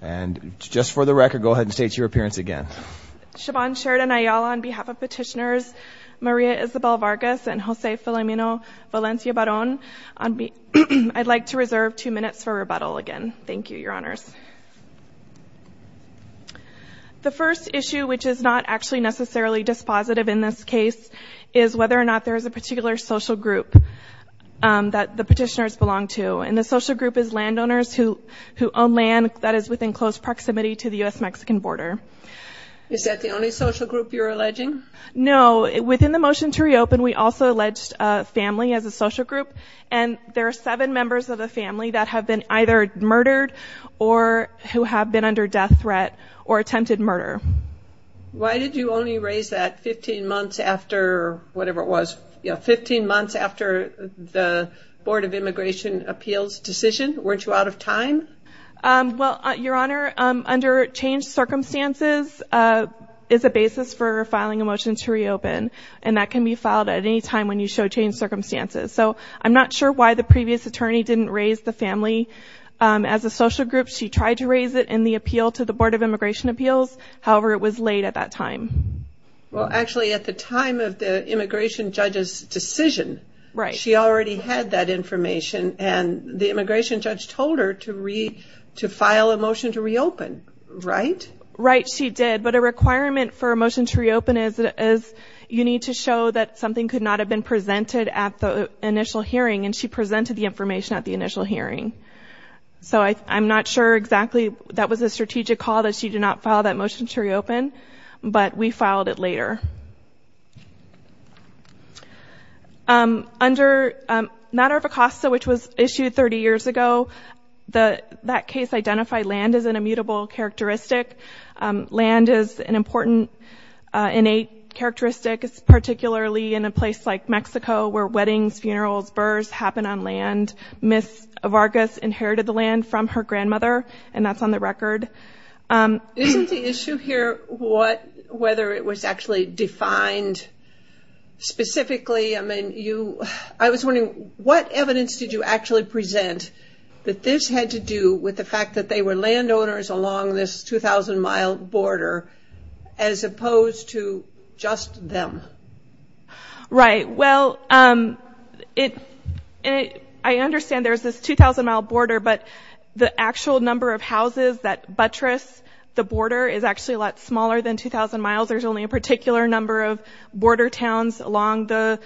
And just for the record, go ahead and state your appearance again. Siobhan Sheridan Ayala, on behalf of petitioners Maria Isabel Vargas and Jose Filamino Valencia Barón, I'd like to reserve two minutes for rebuttal again. Thank you, your honors. The first issue, which is not actually necessarily dispositive in this case, is whether or not there is a particular social group that the petitioners belong to. And the social group is landowners who own land that is within close proximity to the U.S.-Mexican border. Is that the only social group you're alleging? No. Within the motion to reopen, we also alleged a family as a social group. And there are seven members of the family that have been either murdered or who have been under death threat or attempted murder. Why did you only raise that 15 months after the Board of Immigration Appeals decision? Weren't you out of time? Well, your honor, under changed circumstances is a basis for filing a motion to reopen. And that can be filed at any time when you show changed circumstances. So I'm not sure why the previous attorney didn't raise the family as a social group. She tried to raise it in the appeal to the Board of Immigration Appeals. However, it was late at that time. Well, actually, at the time of the immigration judge's decision, she already had that information. And the immigration judge told her to file a motion to reopen, right? Right, she did. But a requirement for a motion to reopen is you need to show that something could not have been presented at the initial hearing. And she presented the information at the initial hearing. So I'm not sure exactly that was a strategic call that she did not file that motion to reopen. But we filed it later. Under matter of ACOSTA, which was issued 30 years ago, that case identified land as an immutable characteristic. Land is an important innate characteristic, particularly in a place like Mexico, where weddings, funerals, burrs happen on land. Ms. Vargas inherited the land from her grandmother, and that's on the record. Isn't the issue here whether it was actually defined specifically? I mean, I was wondering, what evidence did you actually present that this had to do with the fact that they were landowners along this 2,000-mile border as opposed to just them? Right, well, I understand there's this 2,000-mile border, but the actual number of houses that buttress the border is actually a lot smaller than 2,000 miles. There's only a particular number of border towns along the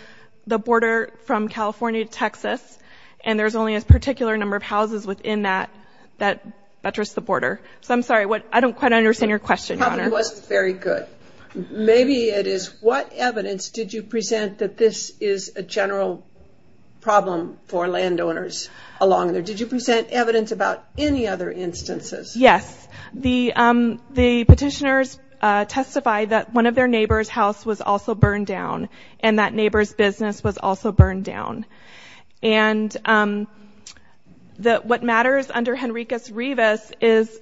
border from California to Texas. And there's only a particular number of houses within that that buttress the border. So I'm sorry, I don't quite understand your question, Your Honor. It wasn't very good. Maybe it is. What evidence did you present that this is a general problem for landowners along there? Did you present evidence about any other instances? Yes. The petitioners testified that one of their neighbor's house was also burned down, and that neighbor's business was also burned down. And what matters under Henricus Rivas is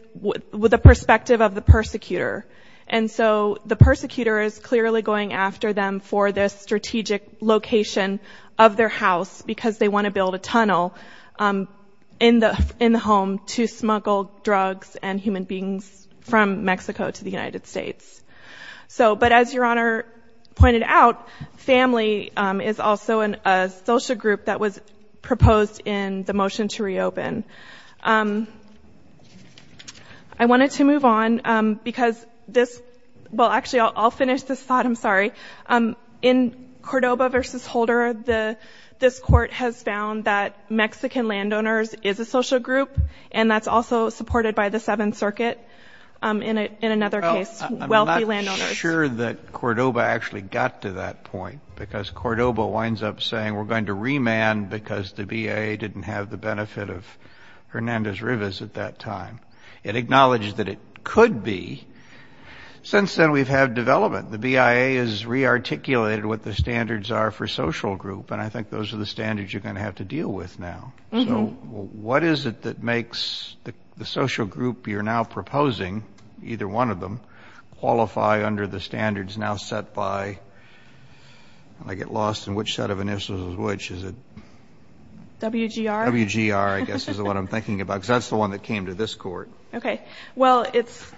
the perspective of the persecutor. And so the persecutor is clearly going after them for this strategic location of their house because they want to build a tunnel in the home to smuggle drugs and human beings from Mexico to the United States. So, but as Your Honor pointed out, family is also a social group that was proposed in the motion to reopen. I wanted to move on because this, well actually I'll finish this thought, I'm sorry. In Cordoba v. Holder, this court has found that Mexican landowners is a social group, and that's also supported by the Seventh Circuit in another case. I'm not sure that Cordoba actually got to that point because Cordoba winds up saying we're going to remand because the BIA didn't have the benefit of Hernandez Rivas at that time. It acknowledged that it could be. Since then we've had development. The BIA has re-articulated what the standards are for social group, and I think those are the standards you're going to have to deal with now. So what is it that makes the social group you're now proposing, either one of them, qualify under the standards now set by, I get lost in which set of initials, which is it? WGR? WGR, I guess is what I'm thinking about because that's the one that came to this court. Okay. Well, it's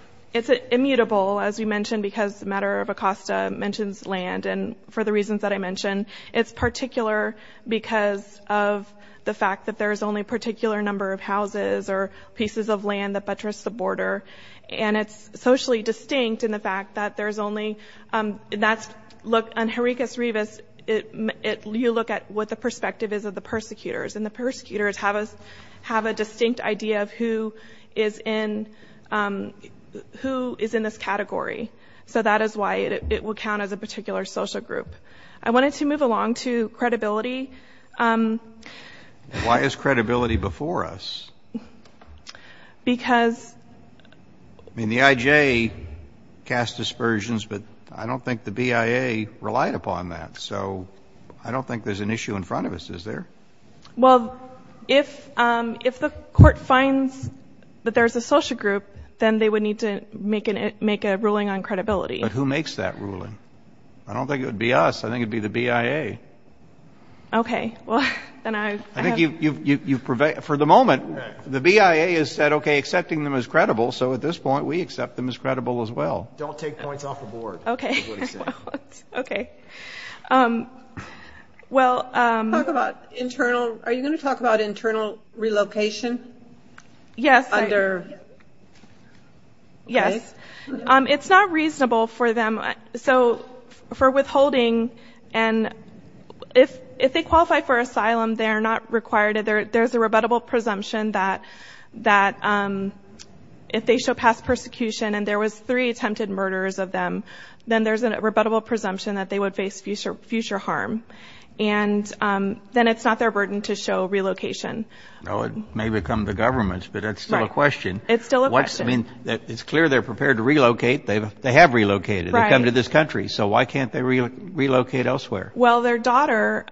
immutable, as you mentioned, because the matter of Acosta mentions land, and for the reasons that I mentioned, it's particular because of the fact that there's only a particular number of houses or pieces of land that buttress the border, and it's socially distinct in the fact that there's only— that's—look, on Hernandez Rivas, you look at what the perspective is of the persecutors, and the persecutors have a distinct idea of who is in this category. So that is why it will count as a particular social group. I wanted to move along to credibility. Why is credibility before us? Because— I mean, the IJ cast dispersions, but I don't think the BIA relied upon that, so I don't think there's an issue in front of us, is there? Well, if the court finds that there's a social group, then they would need to make a ruling on credibility. But who makes that ruling? I don't think it would be us. I think it would be the BIA. Okay. Well, then I— I think you've—for the moment, the BIA has said, okay, accepting them is credible, so at this point, we accept them as credible as well. Don't take points off the board. Okay. Okay. Well— Talk about internal—are you going to talk about internal relocation? Yes. Under— Yes. It's not reasonable for them—so, for withholding, and if they qualify for asylum, they're not required— there's a rebuttable presumption that if they show past persecution and there was three attempted murders of them, then there's a rebuttable presumption that they would face future harm. And then it's not their burden to show relocation. Well, it may become the government's, but that's still a question. It's still a question. I mean, it's clear they're prepared to relocate. They have relocated. They've come to this country, so why can't they relocate elsewhere? Well, their daughter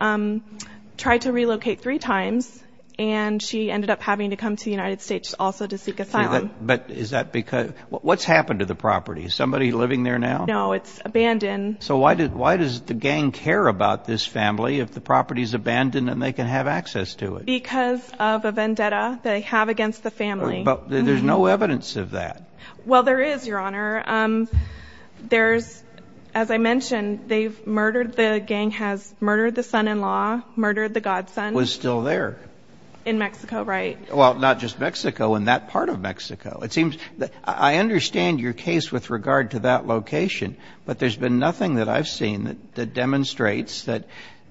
tried to relocate three times, and she ended up having to come to the United States also to seek asylum. But is that because—what's happened to the property? Is somebody living there now? No, it's abandoned. So why does the gang care about this family if the property's abandoned and they can have access to it? Because of a vendetta they have against the family. But there's no evidence of that. Well, there is, Your Honor. There's—as I mentioned, they've murdered— the gang has murdered the son-in-law, murdered the godson. Was still there. In Mexico, right. Well, not just Mexico, in that part of Mexico. It seems—I understand your case with regard to that location, but there's been nothing that I've seen that demonstrates that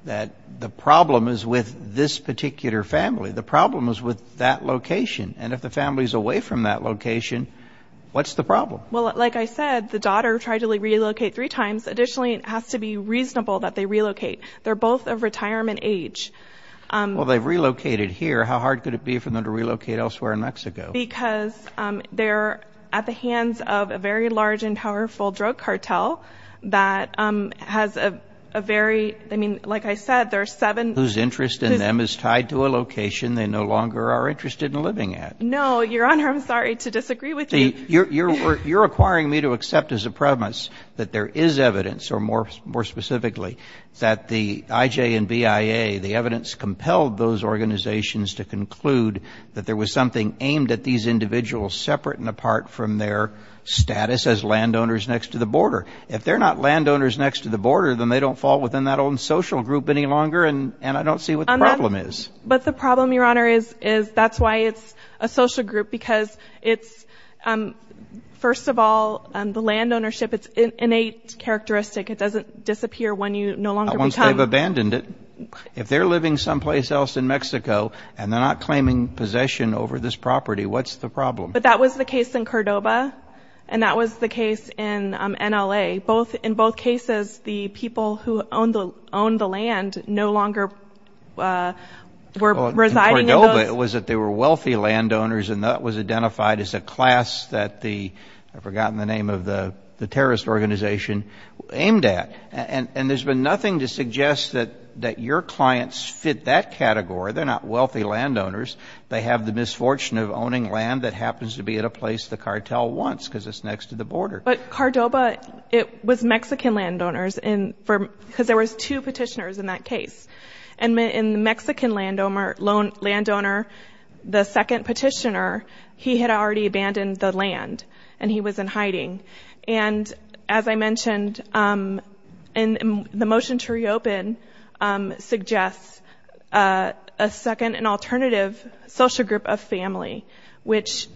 the problem is with this particular family. The problem is with that location. And if the family's away from that location, what's the problem? Well, like I said, the daughter tried to relocate three times. Additionally, it has to be reasonable that they relocate. They're both of retirement age. Well, they've relocated here. How hard could it be for them to relocate elsewhere in Mexico? Because they're at the hands of a very large and powerful drug cartel that has a very—I mean, like I said, there are seven— Whose interest in them is tied to a location they no longer are interested in living at. No, Your Honor, I'm sorry to disagree with you. You're requiring me to accept as a premise that there is evidence, or more specifically, that the IJ and BIA, the evidence compelled those organizations to conclude that there was something aimed at these individuals separate and apart from their status as landowners next to the border. If they're not landowners next to the border, then they don't fall within that own social group any longer, and I don't see what the problem is. But the problem, Your Honor, is that's why it's a social group, because it's—first of all, the land ownership, it's an innate characteristic. It doesn't disappear when you no longer become— Not once they've abandoned it. If they're living someplace else in Mexico, and they're not claiming possession over this property, what's the problem? But that was the case in Cordoba, and that was the case in NLA. In both cases, the people who owned the land no longer were residing in those— In Cordoba, it was that they were wealthy landowners, and that was identified as a class that the— I've forgotten the name of the terrorist organization—aimed at. And there's been nothing to suggest that your clients fit that category. They're not wealthy landowners. They have the misfortune of owning land that happens to be at a place the cartel wants, because it's next to the border. But Cordoba, it was Mexican landowners, because there was two petitioners in that case. And the Mexican landowner, the second petitioner, he had already abandoned the land, and he was in hiding. And as I mentioned, the motion to reopen suggests a second and alternative social group of family, which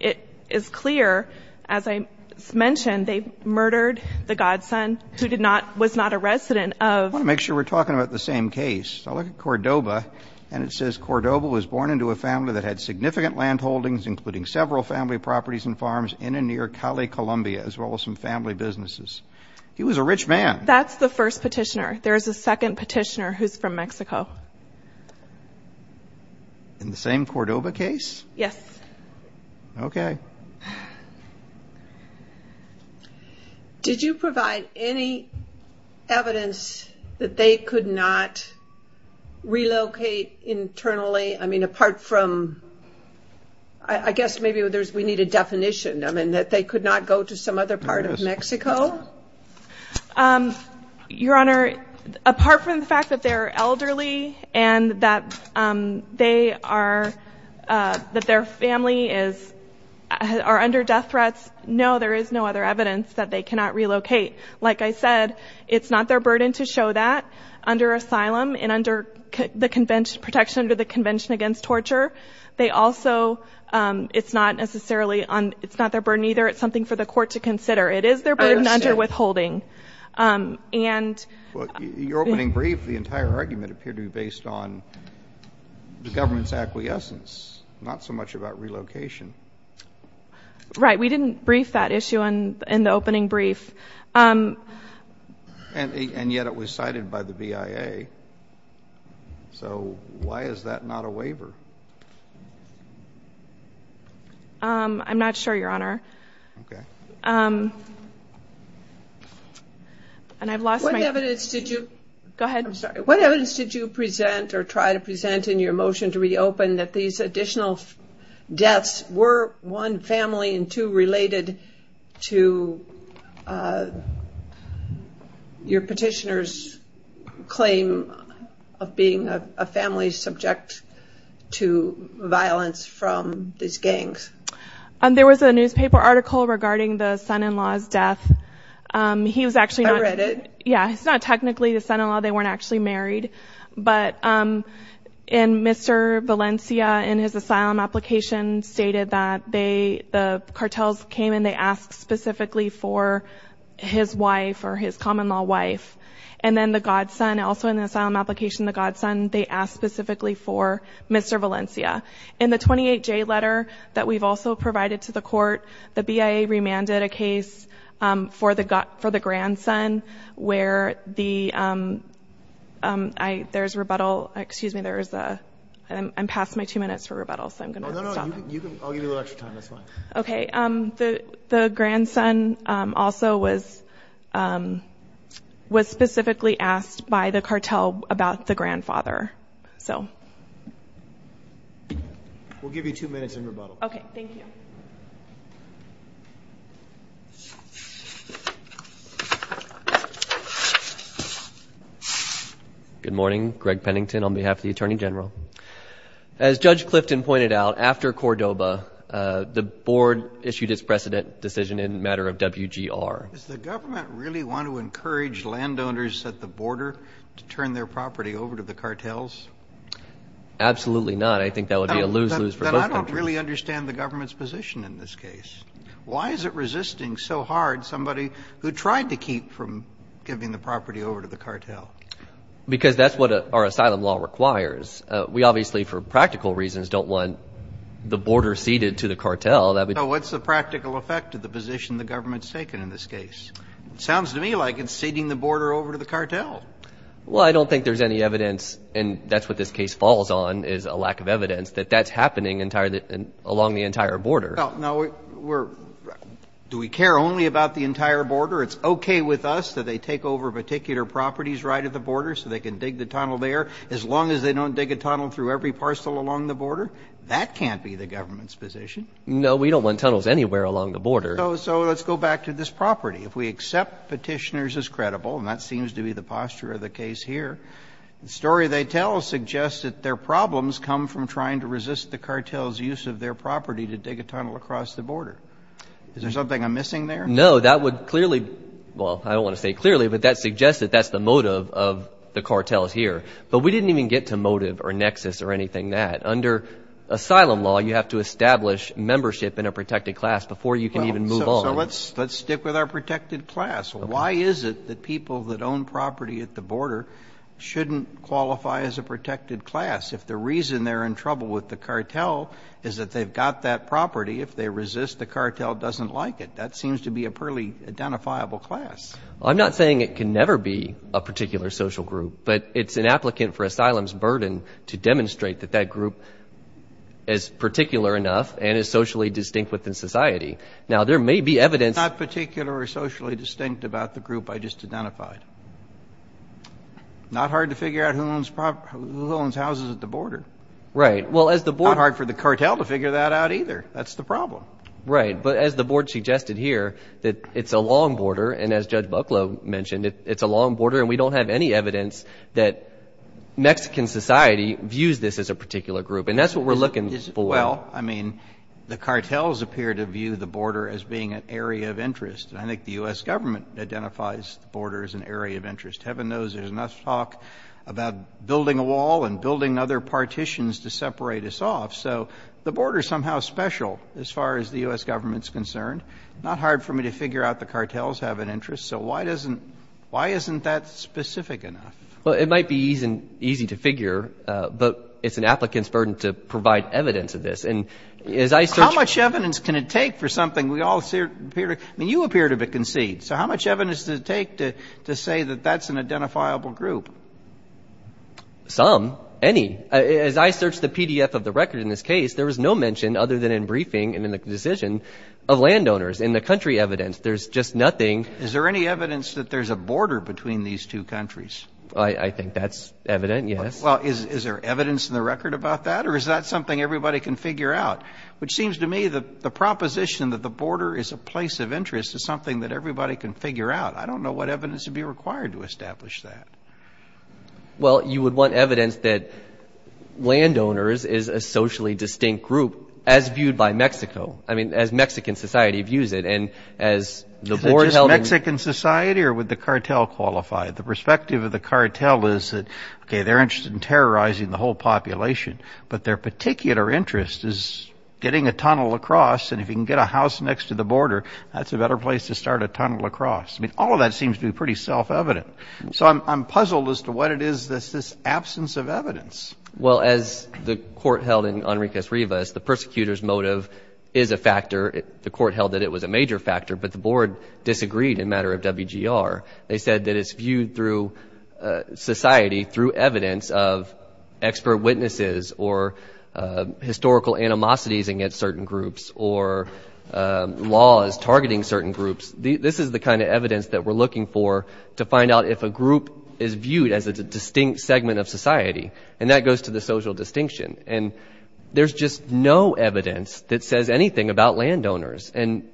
it is clear, as I mentioned, they murdered the godson who was not a resident of— I want to make sure we're talking about the same case. I look at Cordoba, and it says, in and near Cali, Colombia, as well as some family businesses. He was a rich man. That's the first petitioner. There is a second petitioner who's from Mexico. In the same Cordoba case? Yes. Okay. Did you provide any evidence that they could not relocate internally? I mean, apart from—I guess maybe we need a definition. I mean, that they could not go to some other part of Mexico? Your Honor, apart from the fact that they're elderly, and that their family are under death threats, no, there is no other evidence that they cannot relocate. Like I said, it's not their burden to show that under asylum, and protection under the Convention Against Torture. They also—it's not necessarily—it's not their burden either. It's something for the court to consider. It is their burden under withholding. Your opening brief, the entire argument, appeared to be based on the government's acquiescence, not so much about relocation. Right. We didn't brief that issue in the opening brief. And yet it was cited by the BIA. So why is that not a waiver? I'm not sure, Your Honor. Okay. And I've lost my— What evidence did you— Go ahead. I'm sorry. What evidence did you present or try to present in your motion to reopen that these additional deaths were, one, family, and two, related to your petitioner's claim of being a family subject to violence from these gangs? There was a newspaper article regarding the son-in-law's death. He was actually not— I read it. Yeah. It's not technically the son-in-law. They weren't actually married. But in Mr. Valencia, in his asylum application, stated that the cartels came and they asked specifically for his wife or his common-law wife. And then the godson, also in the asylum application, the godson, they asked specifically for Mr. Valencia. In the 28J letter that we've also provided to the court, the BIA remanded a case for the grandson where the—there's rebuttal. Excuse me. I'm past my two minutes for rebuttal, so I'm going to stop. No, no, no. I'll give you a little extra time. That's fine. Okay. The grandson also was specifically asked by the cartel about the grandfather. We'll give you two minutes in rebuttal. Okay. Thank you. Good morning. Greg Pennington on behalf of the Attorney General. As Judge Clifton pointed out, after Cordoba, the board issued its precedent decision in the matter of WGR. Does the government really want to encourage landowners at the border to turn their property over to the cartels? Absolutely not. I think that would be a lose-lose for both countries. Then I don't really understand the government's position in this case. Why is it resisting so hard somebody who tried to keep from giving the property over to the cartel? Because that's what our asylum law requires. We obviously, for practical reasons, don't want the border ceded to the cartel. So what's the practical effect of the position the government's taken in this case? It sounds to me like it's ceding the border over to the cartel. Well, I don't think there's any evidence, and that's what this case falls on is a lack of evidence, that that's happening along the entire border. Now, do we care only about the entire border? It's okay with us that they take over particular properties right at the border so they can dig the tunnel there. As long as they don't dig a tunnel through every parcel along the border, that can't be the government's position. No, we don't want tunnels anywhere along the border. So let's go back to this property. If we accept petitioners as credible, and that seems to be the posture of the case here, the story they tell suggests that their problems come from trying to resist the cartel's use of their property to dig a tunnel across the border. Is there something I'm missing there? No, that would clearly – well, I don't want to say clearly, but that suggests that that's the motive of the cartels here. But we didn't even get to motive or nexus or anything like that. Under asylum law, you have to establish membership in a protected class before you can even move on. So let's stick with our protected class. Why is it that people that own property at the border shouldn't qualify as a protected class if the reason they're in trouble with the cartel is that they've got that property? If they resist, the cartel doesn't like it. That seems to be a poorly identifiable class. I'm not saying it can never be a particular social group, but it's an applicant for asylum's burden to demonstrate that that group is particular enough and is socially distinct within society. Now, there may be evidence. It's not particular or socially distinct about the group I just identified. Not hard to figure out who owns houses at the border. Right. Not hard for the cartel to figure that out either. That's the problem. Right, but as the board suggested here, that it's a long border, and as Judge Bucklow mentioned, it's a long border, and we don't have any evidence that Mexican society views this as a particular group, and that's what we're looking for. Well, I mean, the cartels appear to view the border as being an area of interest, and I think the U.S. government identifies the border as an area of interest. Heaven knows there's enough talk about building a wall and building other partitions to separate us off. So the border is somehow special as far as the U.S. government is concerned. Not hard for me to figure out the cartels have an interest. So why isn't that specific enough? Well, it might be easy to figure, but it's an applicant's burden to provide evidence of this. How much evidence can it take for something we all see or appear to see? I mean, you appear to be conceived. So how much evidence does it take to say that that's an identifiable group? Some, any. As I searched the PDF of the record in this case, there was no mention other than in briefing and in the decision of landowners in the country evidence. There's just nothing. Is there any evidence that there's a border between these two countries? I think that's evident, yes. Well, is there evidence in the record about that, or is that something everybody can figure out? Which seems to me that the proposition that the border is a place of interest is something that everybody can figure out. I don't know what evidence would be required to establish that. Well, you would want evidence that landowners is a socially distinct group, as viewed by Mexico. I mean, as Mexican society views it, and as the board held it. Is it just Mexican society, or would the cartel qualify? The perspective of the cartel is that, okay, they're interested in terrorizing the whole population, but their particular interest is getting a tunnel across, and if you can get a house next to the border, that's a better place to start a tunnel across. I mean, all of that seems to be pretty self-evident. So I'm puzzled as to what it is that's this absence of evidence. Well, as the court held in Enriquez Rivas, the persecutor's motive is a factor. The court held that it was a major factor, but the board disagreed in matter of WGR. They said that it's viewed through society, through evidence of expert witnesses or historical animosities against certain groups or laws targeting certain groups. This is the kind of evidence that we're looking for to find out if a group is viewed as a distinct segment of society, and that goes to the social distinction. And there's just no evidence that says anything about landowners. And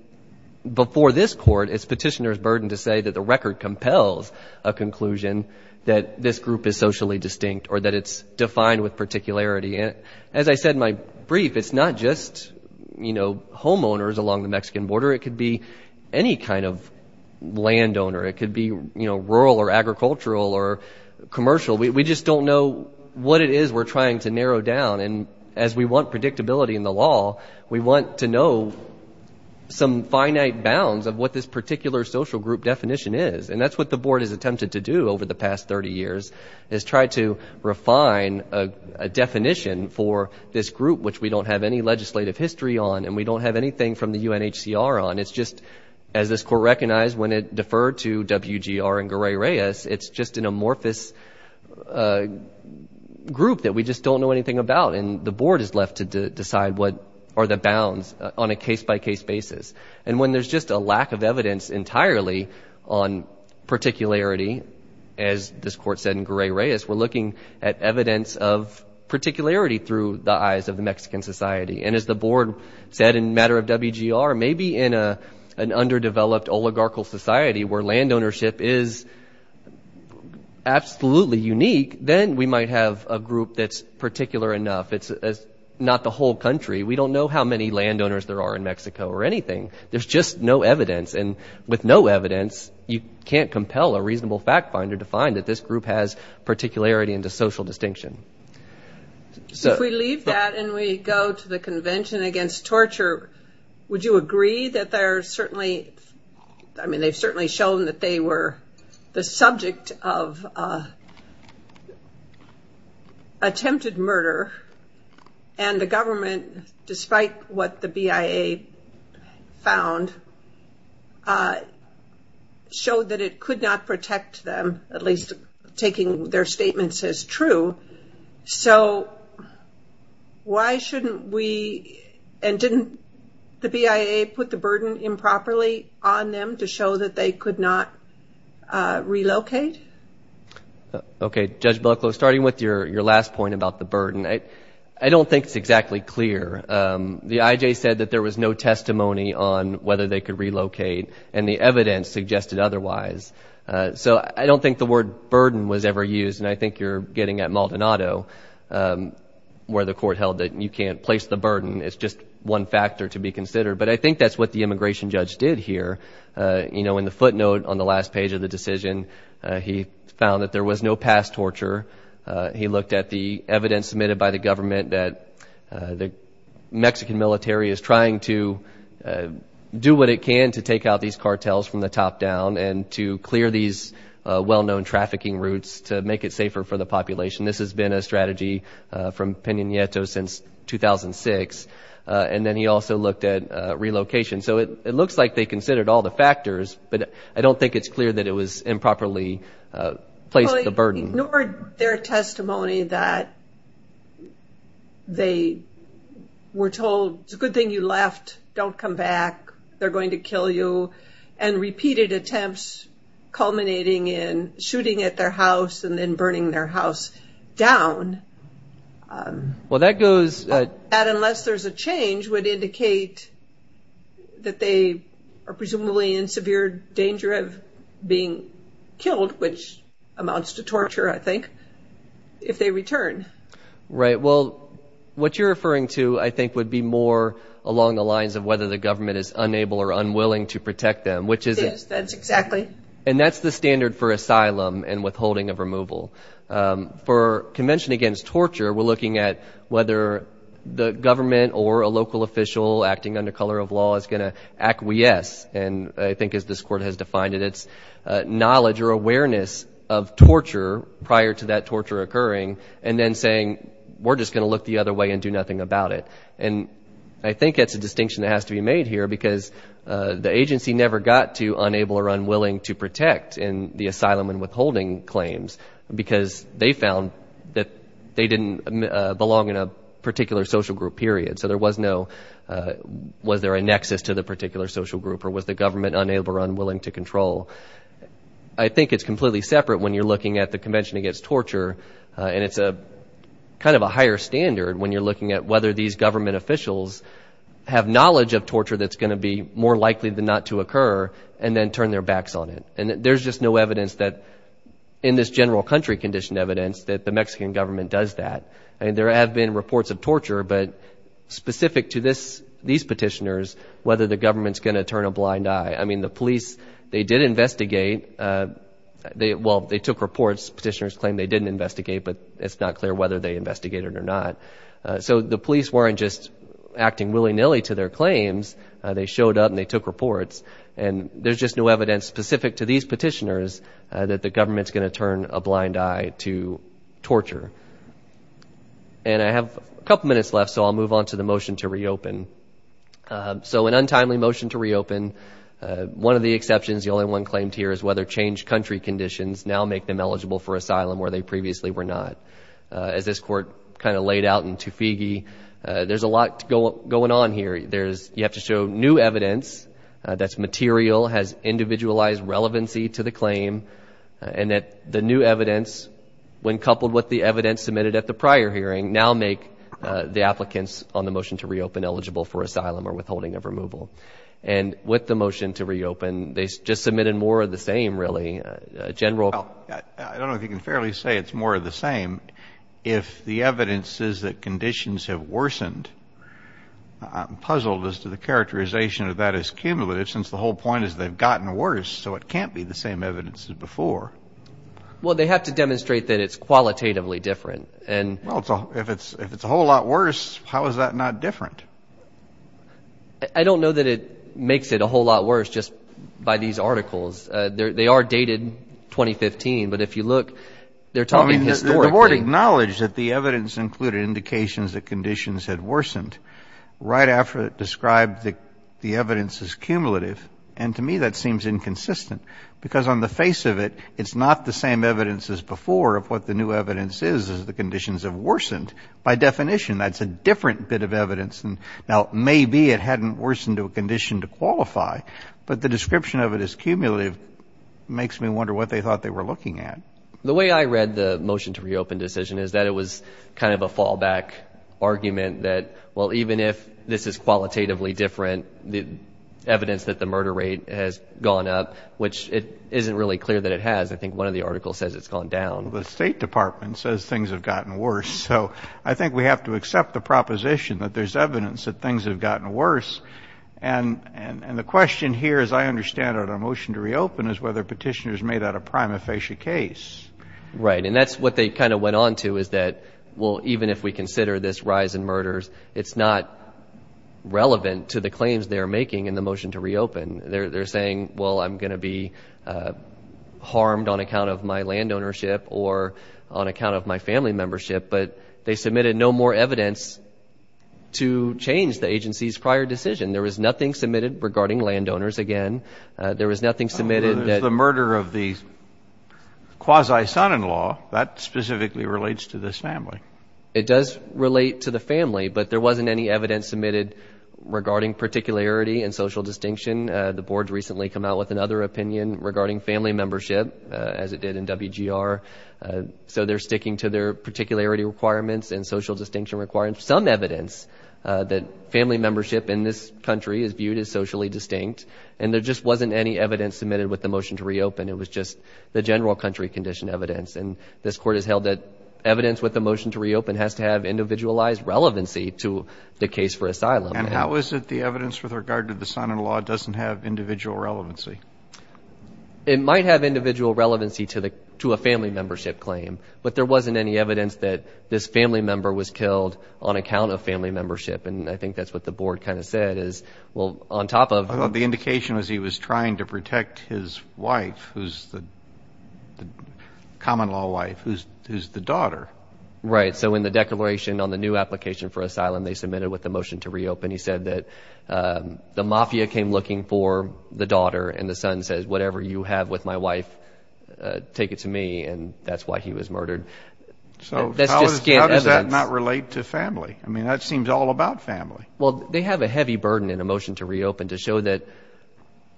before this court, it's petitioner's burden to say that the record compels a conclusion that this group is socially distinct or that it's defined with particularity. And as I said in my brief, it's not just, you know, homeowners along the Mexican border. It could be any kind of landowner. It could be, you know, rural or agricultural or commercial. We just don't know what it is we're trying to narrow down. And as we want predictability in the law, we want to know some finite bounds of what this particular social group definition is. And that's what the board has attempted to do over the past 30 years, is try to refine a definition for this group which we don't have any legislative history on and we don't have anything from the UNHCR on. It's just, as this court recognized when it deferred to WGR and Garay-Reyes, it's just an amorphous group that we just don't know anything about. And the board is left to decide what are the bounds on a case-by-case basis. And when there's just a lack of evidence entirely on particularity, as this court said in Garay-Reyes, we're looking at evidence of particularity through the eyes of the Mexican society. And as the board said in matter of WGR, maybe in an underdeveloped oligarchical society where land ownership is absolutely unique, then we might have a group that's particular enough. It's not the whole country. We don't know how many landowners there are in Mexico or anything. There's just no evidence. And with no evidence, you can't compel a reasonable fact finder to find that this group has particularity and a social distinction. If we leave that and we go to the Convention Against Torture, would you agree that they're certainly, I mean they've certainly shown that they were the subject of attempted murder, and the government, despite what the BIA found, showed that it could not protect them, at least taking their statements as true. So why shouldn't we, and didn't the BIA put the burden improperly on them to show that they could not relocate? Okay, Judge Bucklow, starting with your last point about the burden, I don't think it's exactly clear. The IJ said that there was no testimony on whether they could relocate, and the evidence suggested otherwise. So I don't think the word burden was ever used, and I think you're getting at Maldonado where the court held that you can't place the burden. It's just one factor to be considered. But I think that's what the immigration judge did here. You know, in the footnote on the last page of the decision, he found that there was no past torture. He looked at the evidence submitted by the government that the Mexican military is trying to do what it can to take out these cartels from the top down and to clear these well-known trafficking routes to make it safer for the population. This has been a strategy from Peña Nieto since 2006. And then he also looked at relocation. So it looks like they considered all the factors, but I don't think it's clear that it was improperly placed the burden. Well, he ignored their testimony that they were told, it's a good thing you left, don't come back, they're going to kill you, and repeated attempts culminating in shooting at their house and then burning their house down. Well, that goes. That unless there's a change would indicate that they are presumably in severe danger of being killed, which amounts to torture, I think, if they return. Right. Well, what you're referring to, I think, would be more along the lines of whether the government is unable or unwilling to protect them, which is... It is. That's exactly. And that's the standard for asylum and withholding of removal. For Convention Against Torture, we're looking at whether the government or a local official acting under color of law is going to acquiesce, and I think as this Court has defined it, it's knowledge or awareness of torture prior to that torture occurring and then saying, we're just going to look the other way and do nothing about it. And I think that's a distinction that has to be made here because the agency never got to unable or unwilling to protect in the asylum and withholding claims because they found that they didn't belong in a particular social group, period. So there was no, was there a nexus to the particular social group or was the government unable or unwilling to control? I think it's completely separate when you're looking at the Convention Against Torture, and it's kind of a higher standard when you're looking at whether these government officials have knowledge of torture that's going to be more likely than not to occur and then turn their backs on it. And there's just no evidence that, in this general country-conditioned evidence, that the Mexican government does that. I mean, there have been reports of torture, but specific to these petitioners, whether the government's going to turn a blind eye. I mean, the police, they did investigate. Well, they took reports. Petitioners claim they didn't investigate, but it's not clear whether they investigated or not. So the police weren't just acting willy-nilly to their claims. They showed up and they took reports. And there's just no evidence specific to these petitioners that the government's going to turn a blind eye to torture. And I have a couple minutes left, so I'll move on to the motion to reopen. So an untimely motion to reopen. One of the exceptions, the only one claimed here, is whether changed country conditions now make them eligible for asylum where they previously were not. As this Court kind of laid out in Toofiegie, there's a lot going on here. You have to show new evidence that's material, has individualized relevancy to the claim, and that the new evidence, when coupled with the evidence submitted at the prior hearing, now make the applicants on the motion to reopen eligible for asylum or withholding of removal. And with the motion to reopen, they just submitted more of the same, really. I don't know if you can fairly say it's more of the same. If the evidence is that conditions have worsened, I'm puzzled as to the characterization of that as cumulative, since the whole point is they've gotten worse, so it can't be the same evidence as before. Well, they have to demonstrate that it's qualitatively different. Well, if it's a whole lot worse, how is that not different? I don't know that it makes it a whole lot worse just by these articles. They are dated 2015, but if you look, they're talking historically. The Board acknowledged that the evidence included indications that conditions had worsened right after it described the evidence as cumulative, and to me that seems inconsistent because on the face of it, it's not the same evidence as before of what the new evidence is as the conditions have worsened. By definition, that's a different bit of evidence. Now, maybe it hadn't worsened to a condition to qualify, but the description of it as cumulative makes me wonder what they thought they were looking at. The way I read the motion to reopen decision is that it was kind of a fallback argument that, well, even if this is qualitatively different, the evidence that the murder rate has gone up, which it isn't really clear that it has. I think one of the articles says it's gone down. Well, the State Department says things have gotten worse, so I think we have to accept the proposition that there's evidence that things have gotten worse, and the question here, as I understand it on a motion to reopen, is whether petitioners made that a prima facie case. Right, and that's what they kind of went on to is that, well, even if we consider this rise in murders, it's not relevant to the claims they're making in the motion to reopen. They're saying, well, I'm going to be harmed on account of my land ownership or on account of my family membership, but they submitted no more evidence to change the agency's prior decision. There was nothing submitted regarding landowners again. There was nothing submitted that the murder of the quasi-son-in-law, that specifically relates to this family. It does relate to the family, but there wasn't any evidence submitted regarding particularity and social distinction. The board's recently come out with another opinion regarding family membership, as it did in WGR, so they're sticking to their particularity requirements and social distinction requirements. Some evidence that family membership in this country is viewed as socially distinct, and there just wasn't any evidence submitted with the motion to reopen. It was just the general country condition evidence, and this court has held that evidence with the motion to reopen has to have individualized relevancy to the case for asylum. And how is it the evidence with regard to the son-in-law doesn't have individual relevancy? It might have individual relevancy to a family membership claim, but there wasn't any evidence that this family member was killed on account of family membership, and I think that's what the board kind of said is, well, on top of— I thought the indication was he was trying to protect his wife, who's the common-law wife, who's the daughter. Right, so in the declaration on the new application for asylum they submitted with the motion to reopen, he said that the mafia came looking for the daughter, and the son says, whatever you have with my wife, take it to me, and that's why he was murdered. So how does that not relate to family? I mean, that seems all about family. Well, they have a heavy burden in a motion to reopen to show that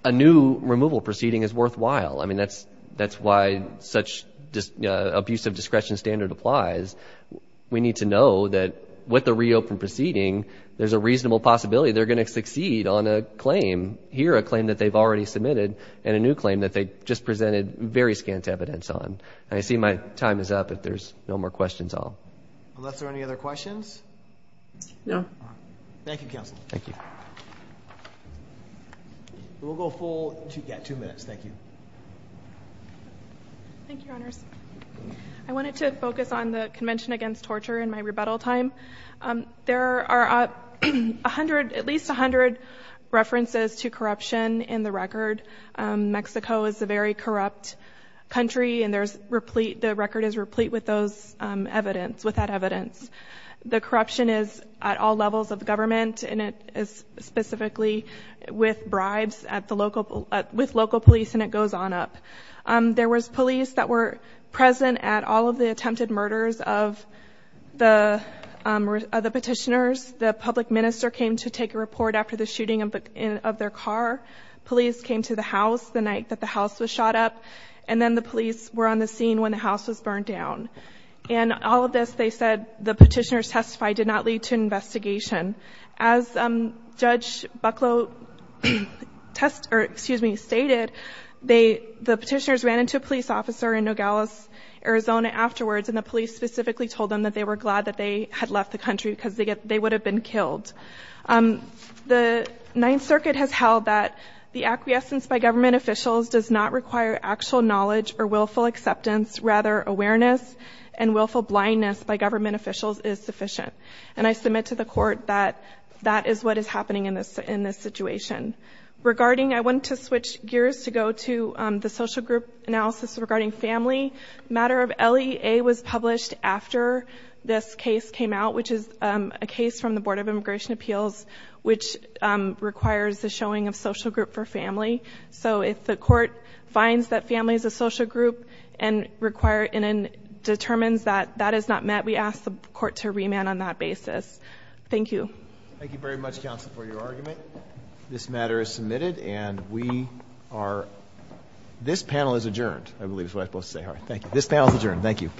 a new removal proceeding is worthwhile. I mean, that's why such abusive discretion standard applies. We need to know that with the reopened proceeding, there's a reasonable possibility they're going to succeed on a claim, here a claim that they've already submitted and a new claim that they just presented very scant evidence on. And I see my time is up if there's no more questions. Unless there are any other questions? No. Thank you, Counsel. Thank you. We'll go full—yeah, two minutes. Thank you. Thank you, Honors. I wanted to focus on the Convention Against Torture and my rebuttal time. There are at least 100 references to corruption in the record. Mexico is a very corrupt country, and the record is replete with that evidence. The corruption is at all levels of government, and it is specifically with bribes with local police, and it goes on up. There was police that were present at all of the attempted murders of the petitioners. The public minister came to take a report after the shooting of their car. Police came to the house the night that the house was shot up, and then the police were on the scene when the house was burned down. In all of this, they said the petitioners testified did not lead to investigation. As Judge Bucklow stated, the petitioners ran into a police officer in Nogales, Arizona, afterwards, and the police specifically told them that they were glad that they had left the country because they would have been killed. The Ninth Circuit has held that the acquiescence by government officials does not require actual knowledge or willful acceptance. Rather, awareness and willful blindness by government officials is sufficient, and I submit to the Court that that is what is happening in this situation. I want to switch gears to go to the social group analysis regarding family. The matter of LEA was published after this case came out, which is a case from the Board of Immigration Appeals, which requires the showing of social group for family. So if the Court finds that family is a social group and determines that that is not met, we ask the Court to remand on that basis. Thank you. Thank you very much, counsel, for your argument. This matter is submitted, and this panel is adjourned, I believe is what I'm supposed to say. This panel is adjourned. Thank you.